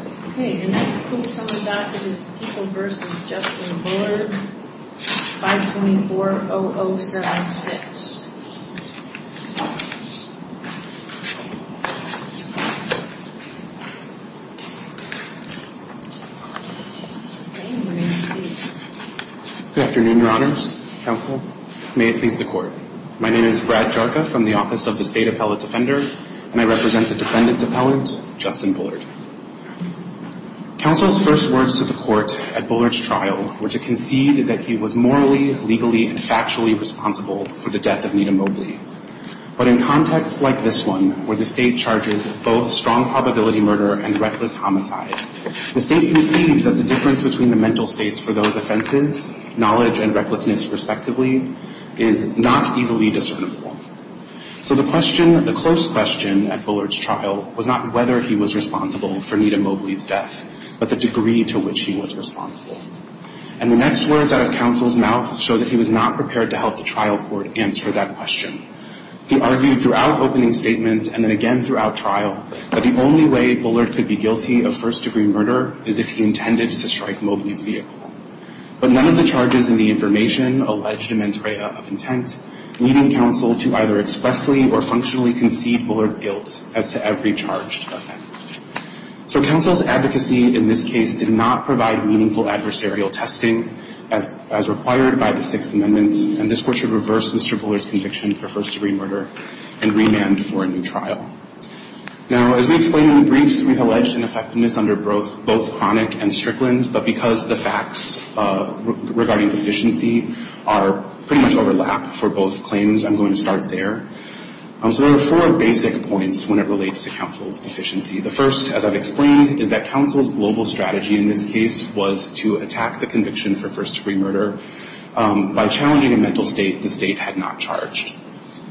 524-0076 Good afternoon, Your Honors, Counsel, may it please the Court. My name is Brad Jarka from the Office of the State Appellate Defender, and I represent the Defendant Appellant, Justin Bullard. Counsel's first words to the Court at Bullard's trial were to concede that he was morally, legally, and factually responsible for the death of Nita Mobley. But in contexts like this one, where the State charges both strong probability murder and reckless homicide, the State concedes that the difference between the mental states for those offenses, knowledge and recklessness, respectively, is not easily discernible. So the question, the close question, at Bullard's trial was not whether he was responsible for Nita Mobley's death, but the degree to which he was responsible. And the next words out of Counsel's mouth showed that he was not prepared to help the trial court answer that question. He argued throughout opening statements and then again throughout trial that the only way Bullard could be guilty of first-degree murder is if he intended to strike Mobley's vehicle. But none of the charges in the information alleged immense array of intent, leading Counsel to either expressly or functionally concede Bullard's guilt as to every charged offense. So Counsel's advocacy in this case did not provide meaningful adversarial testing as required by the Sixth Amendment, and this Court should reverse Mr. Bullard's conviction for first-degree murder and remand for a new trial. Now, as we explained in the briefs, we've alleged an effectiveness under both chronic and strickland, but because the facts regarding deficiency are pretty much overlapped for both claims, I'm going to start there. So there are four basic points when it relates to Counsel's deficiency. The first, as I've explained, is that Counsel's global strategy in this case was to attack the conviction for first-degree murder by challenging a mental state the State had not charged.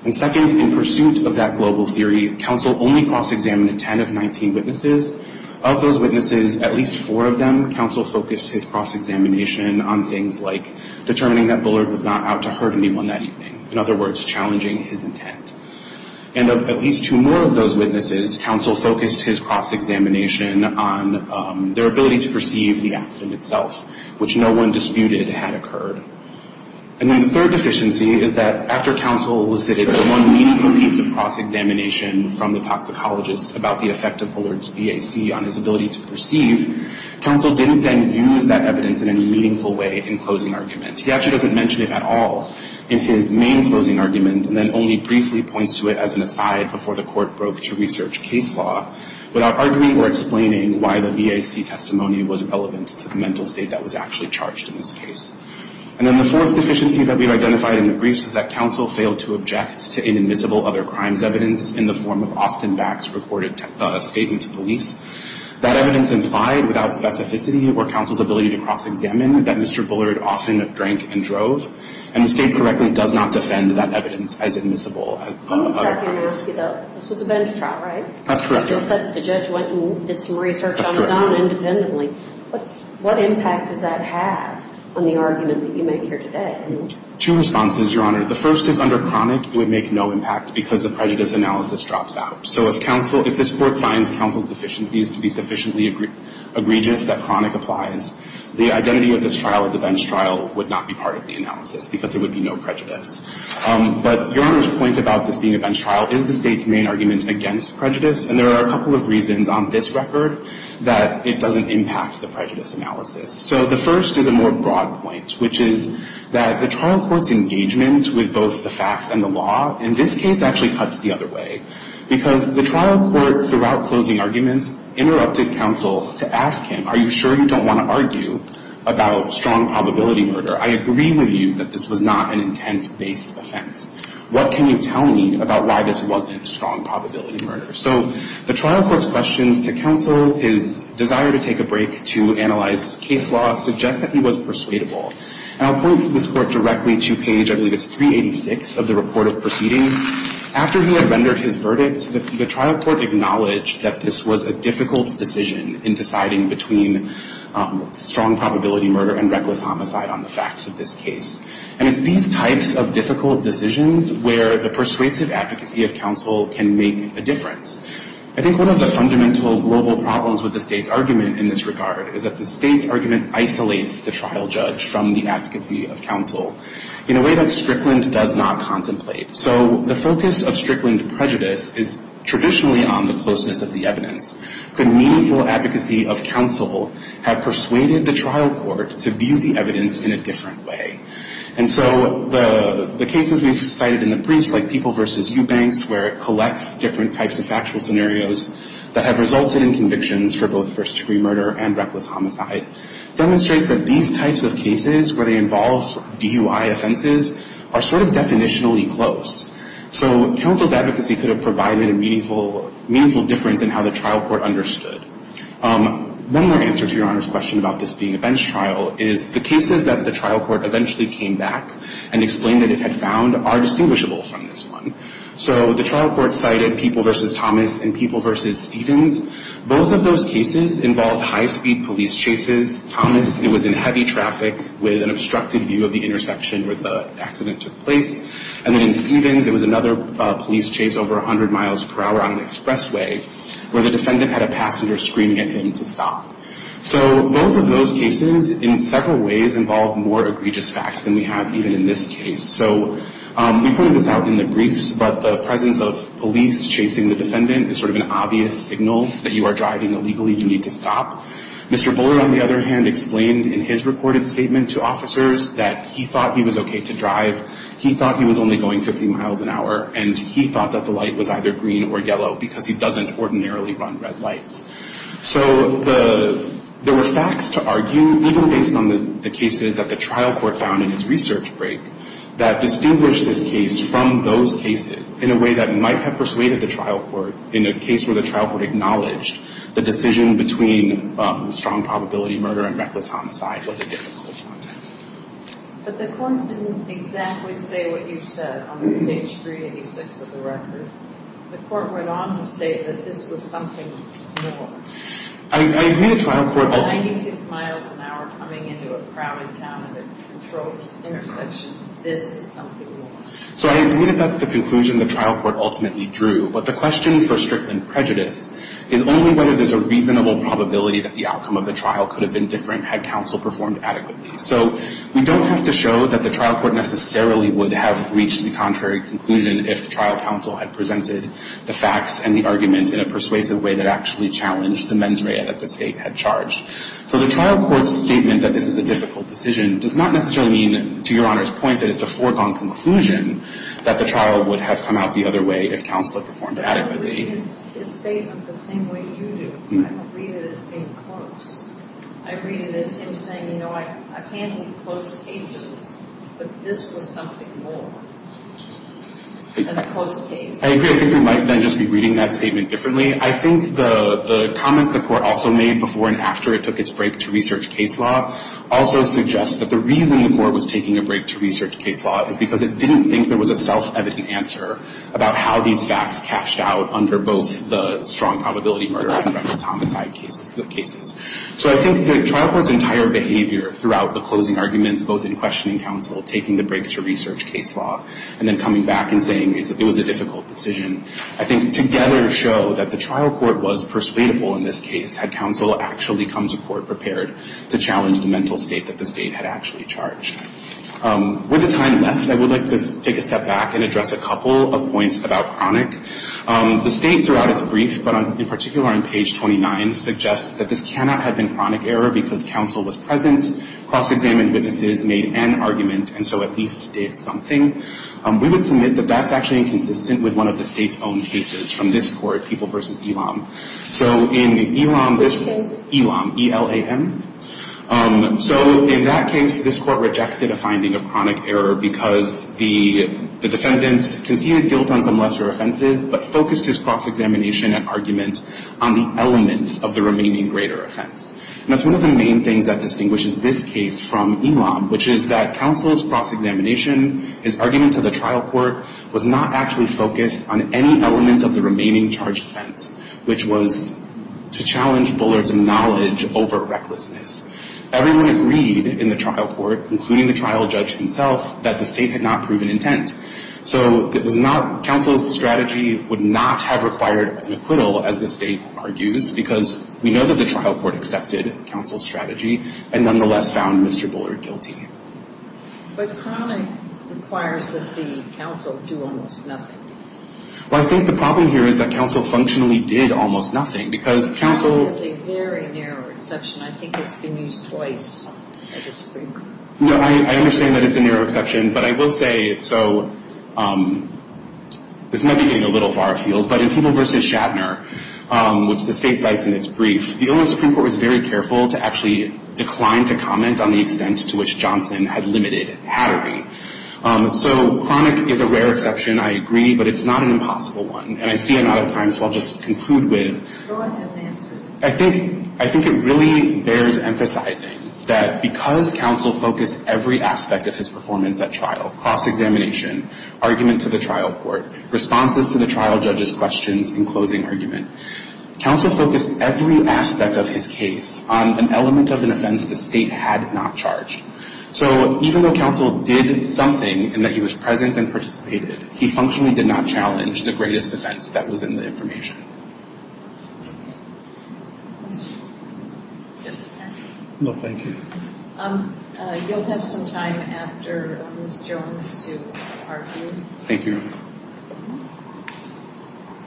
And second, in pursuit of that global theory, Counsel only cross-examined 10 of 19 witnesses. Of those witnesses, at least four of them, Counsel focused his cross-examination on things like determining that Bullard was not out to hurt anyone that evening. In other words, challenging his intent. And of at least two more of those witnesses, Counsel focused his cross-examination on their ability to perceive the accident itself, which no one disputed had occurred. And then the third deficiency is that after Counsel elicited one meaningful piece of cross-examination from the toxicologist about the effect of Bullard's VAC on his ability to perceive, Counsel didn't then use that evidence in any meaningful way in closing argument. He actually doesn't mention it at all in his main closing argument, and then only briefly points to it as an aside before the Court broke to research case law without arguing or explaining why the VAC testimony was relevant to the mental state that was actually charged in this case. And then the fourth deficiency that we've identified in the briefs is that Counsel failed to object to inadmissible other crimes evidence in the form of Austin VAC's recorded statement to police. That evidence implied, without specificity or Counsel's ability to cross-examine, that Mr. Bullard often drank and drove, and the State correctly does not defend that evidence as admissible. I'm just curious, though. This was a bench trial, right? That's correct, Your Honor. The judge went and did some research on his own independently. That's correct. What impact does that have on the argument that you make here today? Two responses, Your Honor. The first is under chronic, it would make no impact because the prejudice analysis drops out. So if this Court finds Counsel's deficiencies to be sufficiently egregious that chronic applies, the identity of this trial as a bench trial would not be part of the analysis because there would be no prejudice. But Your Honor's point about this being a bench trial is the State's main argument against prejudice, and there are a couple of reasons on this record that it doesn't impact the prejudice analysis. So the first is a more broad point, which is that the trial court's engagement with both the facts and the law in this case actually cuts the other way. Because the trial court, throughout closing arguments, interrupted Counsel to ask him, are you sure you don't want to argue about strong probability murder? I agree with you that this was not an intent-based offense. What can you tell me about why this wasn't strong probability murder? So the trial court's questions to Counsel, his desire to take a break to analyze case law, suggest that he was persuadable. And I'll point this Court directly to page, I believe it's 386 of the report of proceedings. After he had rendered his verdict, the trial court acknowledged that this was a difficult decision in deciding between strong probability murder and reckless homicide on the facts of this case. And it's these types of difficult decisions where the persuasive advocacy of Counsel can make a difference. I think one of the fundamental global problems with the State's argument in this regard is that the State's argument isolates the trial judge from the advocacy of Counsel in a way that Strickland does not contemplate. So the focus of Strickland prejudice is traditionally on the closeness of the evidence. Could meaningful advocacy of Counsel have persuaded the trial court to view the evidence in a different way? And so the cases we've cited in the briefs, like People v. Eubanks, where it collects different types of factual scenarios that have resulted in convictions for both first-degree murder and reckless homicide, demonstrates that these types of cases where they involve DUI offenses are sort of definitionally close. So Counsel's advocacy could have provided a meaningful difference in how the trial court understood. One more answer to Your Honor's question about this being a bench trial is the cases that the trial court eventually came back and explained that it had found are distinguishable from this one. So the trial court cited People v. Thomas and People v. Stevens. Both of those cases involved high-speed police chases. Thomas, it was in heavy traffic with an obstructed view of the intersection where the accident took place. And then in Stevens, it was another police chase over 100 miles per hour on an expressway where the defendant had a passenger screaming at him to stop. So both of those cases in several ways involve more egregious facts than we have even in this case. So we pointed this out in the briefs, but the presence of police chasing the defendant is sort of an obvious signal that you are driving illegally. You need to stop. Mr. Bullard, on the other hand, explained in his recorded statement to officers that he thought he was okay to drive. He thought he was only going 50 miles an hour, and he thought that the light was either green or yellow because he doesn't ordinarily run red lights. So there were facts to argue, even based on the cases that the trial court found in its research break, that distinguished this case from those cases in a way that might have persuaded the trial court in a case where the trial court acknowledged the decision between strong probability murder and reckless homicide was a difficult one. But the court didn't exactly say what you said on page 386 of the record. The court went on to state that this was something more. I agree the trial court... 96 miles an hour coming into a crowded town at a controlled intersection, this is something more. So I agree that that's the conclusion the trial court ultimately drew. But the question for Strickland prejudice is only whether there's a reasonable probability that the outcome of the trial could have been different had counsel performed adequately. So we don't have to show that the trial court necessarily would have reached the contrary conclusion if the trial counsel had presented the facts and the argument in a persuasive way that actually challenged the mens rea that the State had charged. So the trial court's statement that this is a difficult decision does not necessarily mean, to Your Honor's point, that it's a foregone conclusion that the trial would have come out the other way if counsel had performed adequately. But I read his statement the same way you do. I don't read it as being close. I read it as him saying, you know, I've handled close cases, but this was something more than a close case. I agree. I think we might then just be reading that statement differently. I think the comments the court also made before and after it took its break to research case law also suggests that the reason the court was taking a break to research case law is because it didn't think there was a self-evident answer about how these facts cashed out under both the strong probability murder and reckless homicide cases. So I think the trial court's entire behavior throughout the closing arguments, both in questioning counsel, taking the break to research case law, and then coming back and saying it was a difficult decision, I think together show that the trial court was persuadable in this case had counsel actually come to court prepared to challenge the mental state that the State had actually charged. With the time left, I would like to take a step back and address a couple of points about chronic. The State throughout its brief, but in particular on page 29, suggests that this cannot have been chronic error because counsel was present, cross-examined witnesses, made an argument, and so at least did something. We would submit that that's actually inconsistent with one of the State's own cases from this court, People v. Elam. So in Elam, this is Elam, E-L-A-M. So in that case, this court rejected a finding of chronic error because the defendant conceded guilt on some lesser offenses, but focused his cross-examination and argument on the elements of the remaining greater offense. And that's one of the main things that distinguishes this case from Elam, which is that counsel's cross-examination, his argument to the trial court, was not actually focused on any element of the remaining charged offense, which was to challenge Bullard's knowledge over recklessness. Everyone agreed in the trial court, including the trial judge himself, that the State had not proven intent. So counsel's strategy would not have required an acquittal, as the State argues, because we know that the trial court accepted counsel's strategy and nonetheless found Mr. Bullard guilty. But chronic requires that the counsel do almost nothing. Well, I think the problem here is that counsel functionally did almost nothing because counsel has a very narrow exception. I think it's been used twice at the Supreme Court. No, I understand that it's a narrow exception. But I will say, so this might be getting a little far afield, but in People v. Shatner, which the State cites in its brief, the Elam Supreme Court was very careful to actually decline to comment on the extent to which Johnson had limited hattery. So chronic is a rare exception, I agree, but it's not an impossible one. And I see I'm out of time, so I'll just conclude with Go ahead and answer. I think it really bears emphasizing that because counsel focused every aspect of his performance at trial, cross-examination, argument to the trial court, responses to the trial judge's questions, and closing argument, counsel focused every aspect of his case on an element of an offense the State had not charged. So even though counsel did something in that he was present and participated, he functionally did not challenge the greatest offense that was in the information. Just a second. No, thank you. You'll have some time after Ms. Jones to argue. Thank you.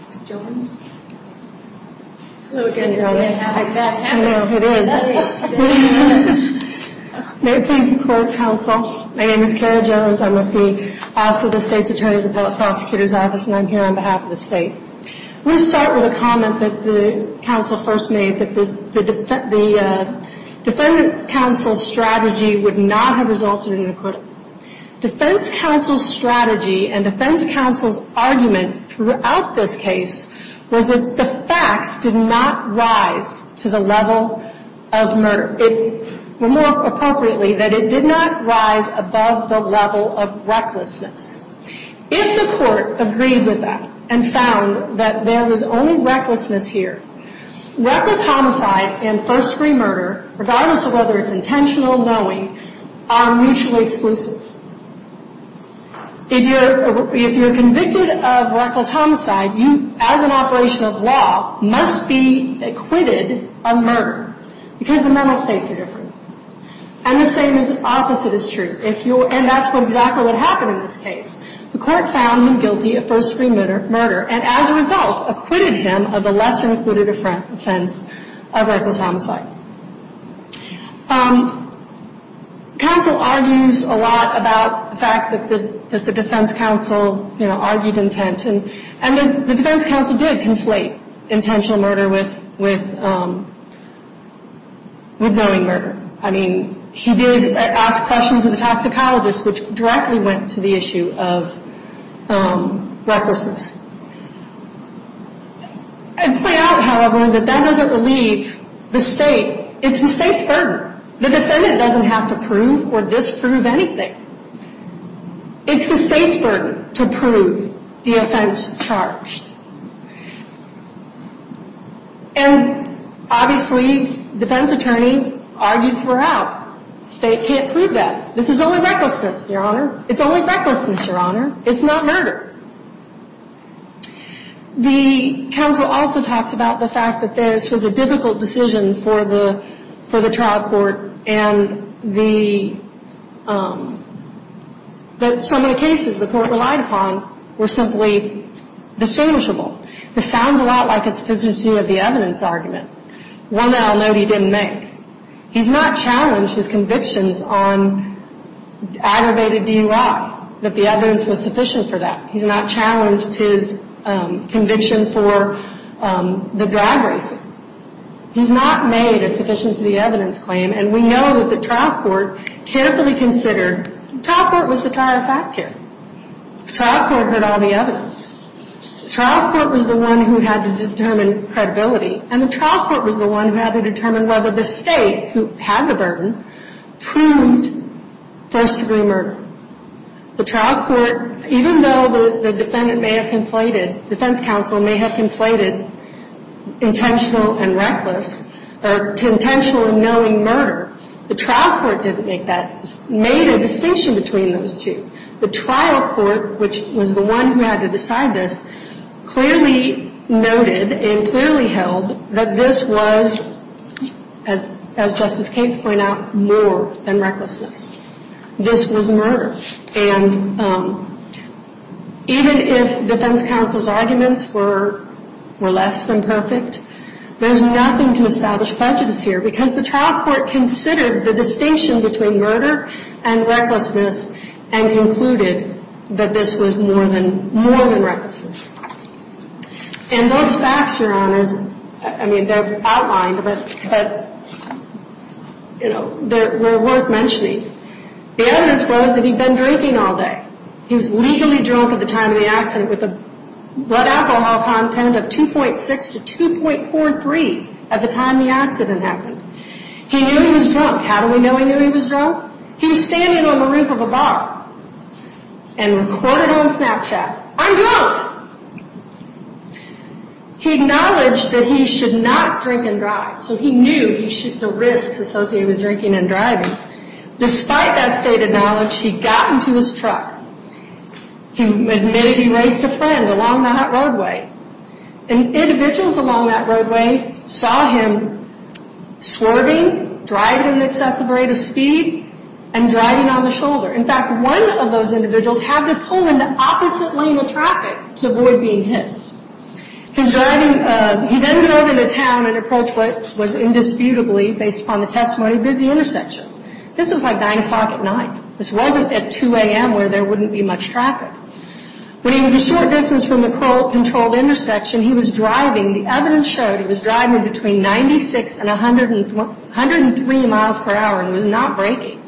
Ms. Jones? Hello again, Kelly. I bet that happens. I know, it is. May it please the court, counsel. My name is Kara Jones. I'm with the Office of the State's Attorney's Appellate Prosecutor's Office, and I'm here on behalf of the State. I'm going to start with a comment that counsel first made, that the defense counsel's strategy would not have resulted in an acquittal. Defense counsel's strategy and defense counsel's argument throughout this case was that the facts did not rise to the level of murder. More appropriately, that it did not rise above the level of recklessness. If the court agreed with that and found that there was only recklessness here, reckless homicide and first-degree murder, regardless of whether it's intentional or knowing, are mutually exclusive. If you're convicted of reckless homicide, you, as an operation of law, must be acquitted of murder, because the mental states are different. And the same opposite is true, and that's exactly what happened in this case. The court found him guilty of first-degree murder, and as a result acquitted him of a lesser-included offense of reckless homicide. Counsel argues a lot about the fact that the defense counsel argued intent, and the defense counsel did conflate intentional murder with knowing murder. I mean, he did ask questions of the toxicologist, which directly went to the issue of recklessness. I'd point out, however, that that doesn't relieve the state. It's the state's burden. The defendant doesn't have to prove or disprove anything. It's the state's burden to prove the offense charged. And, obviously, the defense attorney argues we're out. The state can't prove that. This is only recklessness, Your Honor. It's only recklessness, Your Honor. It's not murder. The counsel also talks about the fact that this was a difficult decision for the trial court and that some of the cases the court relied upon were simply distinguishable. This sounds a lot like a sufficiency of the evidence argument, one that I'll note he didn't make. He's not challenged his convictions on aggravated DUI, that the evidence was sufficient for that. He's not challenged his conviction for the drag racing. He's not made a sufficiency of the evidence claim, and we know that the trial court carefully considered. The trial court was the tire factor. The trial court heard all the evidence. The trial court was the one who had to determine credibility, and the trial court was the one who had to determine whether the state, who had the burden, proved first-degree murder. The trial court, even though the defendant may have conflated, defense counsel may have conflated intentional and reckless, intentional and knowing murder, the trial court didn't make that, made a distinction between those two. The trial court, which was the one who had to decide this, clearly noted and clearly held that this was, as Justice Kates pointed out, more than recklessness. This was murder. And even if defense counsel's arguments were less than perfect, there's nothing to establish prejudice here, because the trial court considered the distinction between murder and recklessness and concluded that this was more than recklessness. And those facts, Your Honors, I mean, they're outlined, but, you know, were worth mentioning. The evidence was that he'd been drinking all day. He was legally drunk at the time of the accident with a blood alcohol content of 2.6 to 2.43 at the time the accident happened. He knew he was drunk. How do we know he knew he was drunk? He was standing on the roof of a bar and recorded on Snapchat, I'm drunk. He acknowledged that he should not drink and drive, so he knew the risks associated with drinking and driving. Despite that state of knowledge, he got into his truck. He admitted he raced a friend along the hot roadway. Individuals along that roadway saw him swerving, driving at an excessive rate of speed, and driving on the shoulder. In fact, one of those individuals had to pull in the opposite lane of traffic to avoid being hit. His driving, he then got over the town and approached what was indisputably, based upon the testimony, a busy intersection. This was like 9 o'clock at night. This wasn't at 2 a.m. where there wouldn't be much traffic. When he was a short distance from the controlled intersection, he was driving. The evidence showed he was driving between 96 and 103 miles per hour and was not braking.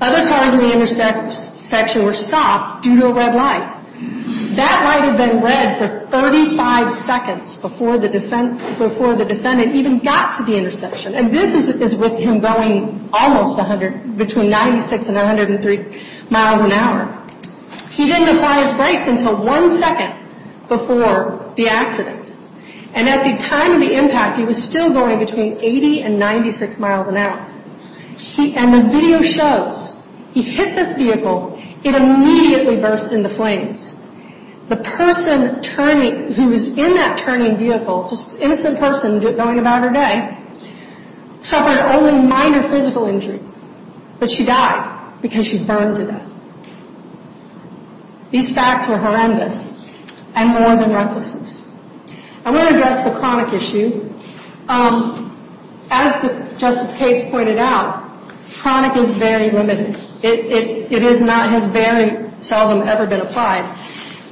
Other cars in the intersection were stopped due to a red light. That light had been red for 35 seconds before the defendant even got to the intersection. And this is with him going almost 100, between 96 and 103 miles an hour. He didn't apply his brakes until one second before the accident. And at the time of the impact, he was still going between 80 and 96 miles an hour. And the video shows, he hit this vehicle. It immediately burst into flames. The person turning, who was in that turning vehicle, just an innocent person going about her day, suffered only minor physical injuries, but she died because she burned to death. These facts were horrendous and more than reckless. I want to address the chronic issue. As Justice Cates pointed out, chronic is very limited. It is not, has very seldom ever been applied.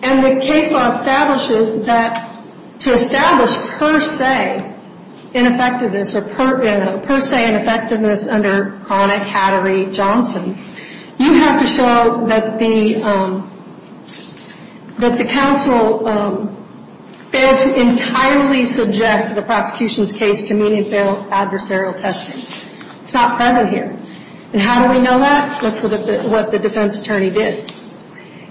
And the case law establishes that to establish per se ineffectiveness or per se ineffectiveness under chronic Hattery-Johnson, you have to show that the counsel failed to entirely subject the prosecution's case to mean and feral adversarial testing. It's not present here. And how do we know that? Let's look at what the defense attorney did.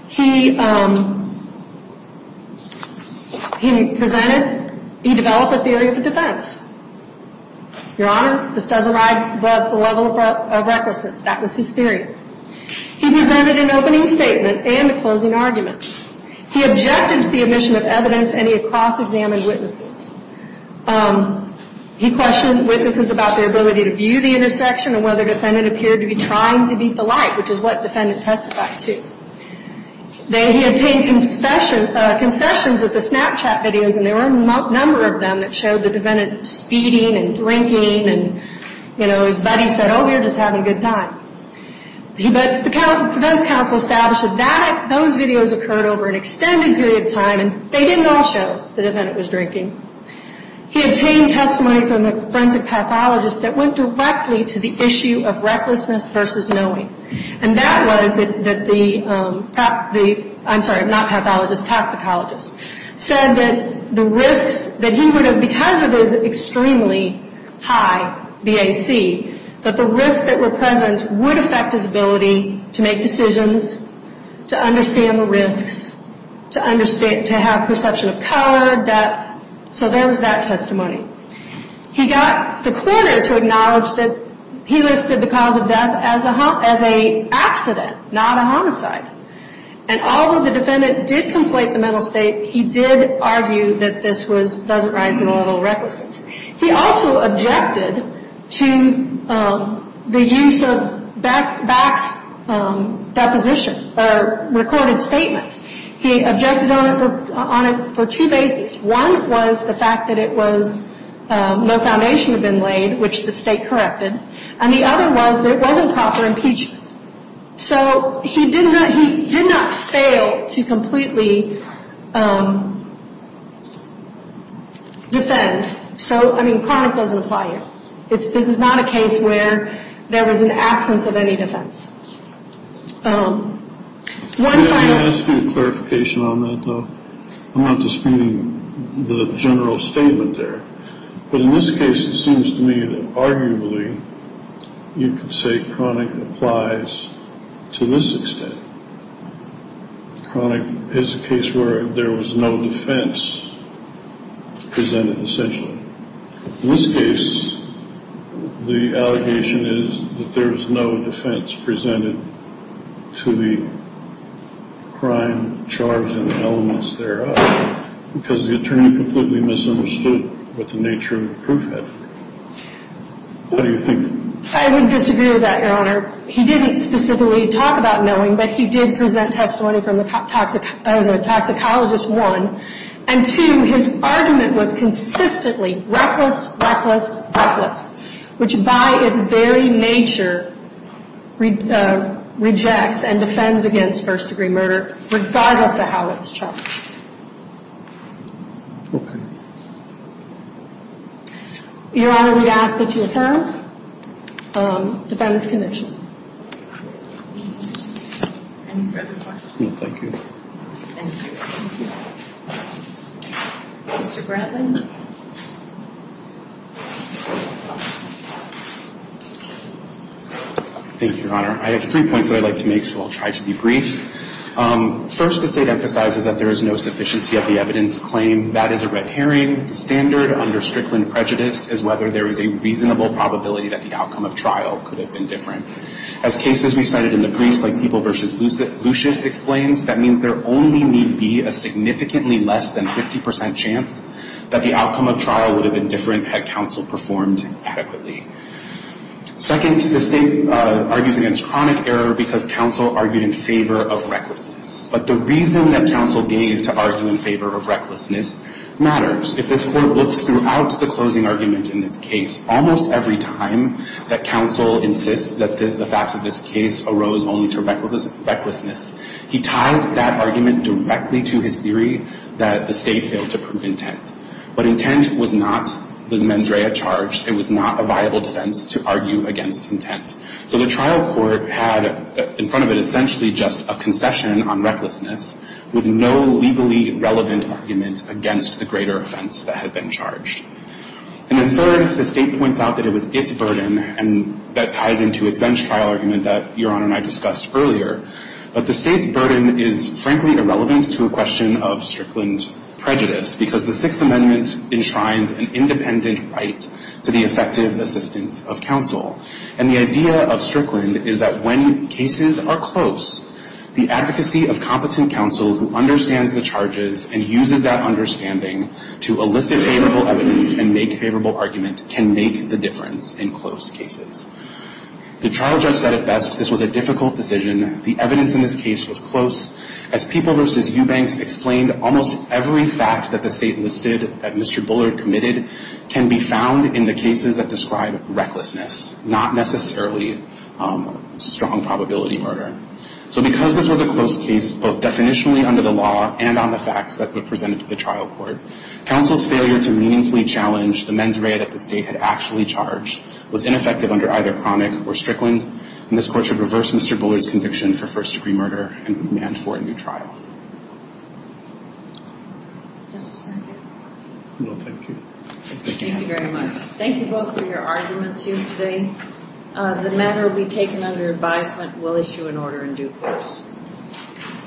He presented, he developed a theory of defense. Your Honor, this does arrive above the level of recklessness. That was his theory. He presented an opening statement and a closing argument. He objected to the admission of evidence, and he cross-examined witnesses. He questioned witnesses about their ability to view the intersection and whether the defendant appeared to be trying to beat the light, which is what the defendant testified to. Then he obtained concessions of the Snapchat videos, and there were a number of them that showed the defendant speeding and drinking, and, you know, his buddy said, oh, we're just having a good time. But the defense counsel established that those videos occurred over an extended period of time, and they didn't all show the defendant was drinking. He obtained testimony from a forensic pathologist that went directly to the issue of recklessness versus knowing. And that was that the, I'm sorry, not pathologist, toxicologist, said that the risks that he would have, because of his extremely high BAC, that the risks that were present would affect his ability to make decisions, to understand the risks, to have perception of color, depth. So there was that testimony. He got the coroner to acknowledge that he listed the cause of death as an accident, not a homicide. And although the defendant did conflate the mental state, he did argue that this was, doesn't rise to the level of recklessness. He also objected to the use of BAC's deposition or recorded statement. He objected on it for two bases. One was the fact that it was no foundation had been laid, which the state corrected, and the other was that it wasn't proper impeachment. So he did not fail to completely defend. So, I mean, chronic doesn't apply here. This is not a case where there was an absence of any defense. One final. Can I ask you a clarification on that, though? I'm not disputing the general statement there. But in this case, it seems to me that arguably you could say chronic applies to this extent. Chronic is a case where there was no defense presented, essentially. In this case, the allegation is that there was no defense presented to the crime, charge, and elements thereof, because the attorney completely misunderstood what the nature of the proof had. What do you think? I would disagree with that, Your Honor. He didn't specifically talk about knowing, but he did present testimony from the toxicologist, one. And, two, his argument was consistently reckless, reckless, reckless, which by its very nature rejects and defends against first-degree murder, regardless of how it's charged. Your Honor, we ask that you affirm the defendant's conviction. Any further questions? No, thank you. Thank you. Mr. Brantley. Thank you, Your Honor. I have three points that I'd like to make, so I'll try to be brief. First, the State emphasizes that there is no sufficiency of the evidence claim. That is a red herring. The standard under Strickland prejudice is whether there is a reasonable probability that the outcome of trial could have been different. As cases recited in the briefs like People v. Lucius explains, that means there only need be a significantly less than 50 percent chance that the outcome of trial would have been different had counsel performed adequately. Second, the State argues against chronic error because counsel argued in favor of recklessness. But the reason that counsel gave to argue in favor of recklessness matters. If this Court looks throughout the closing argument in this case, almost every time that counsel insists that the facts of this case arose only to recklessness, he ties that argument directly to his theory that the State failed to prove intent. But intent was not the mens rea charged. It was not a viable defense to argue against intent. So the trial court had in front of it essentially just a concession on recklessness with no legally relevant argument against the greater offense that had been charged. And then third, the State points out that it was its burden and that ties into its bench trial argument that Your Honor and I discussed earlier. But the State's burden is frankly irrelevant to a question of Strickland prejudice because the Sixth Amendment enshrines an independent right to the effective assistance of counsel. And the idea of Strickland is that when cases are close, the advocacy of competent counsel who understands the charges and uses that understanding to elicit favorable evidence and make favorable argument can make the difference in close cases. The trial judge said at best this was a difficult decision. The evidence in this case was close. As People v. Eubanks explained, almost every fact that the State listed that Mr. Bullard committed can be found in the cases that describe recklessness, not necessarily strong probability murder. So because this was a close case, both definitionally under the law and on the facts that were presented to the trial court, counsel's failure to meaningfully challenge the mens rea that the State had actually charged was ineffective under either Cromick or Strickland, and this court should reverse Mr. Bullard's conviction for first-degree murder and demand for a new trial. Does this end here? No, thank you. Thank you very much. Thank you both for your arguments here today. The matter will be taken under advisement. We'll issue an order in due course.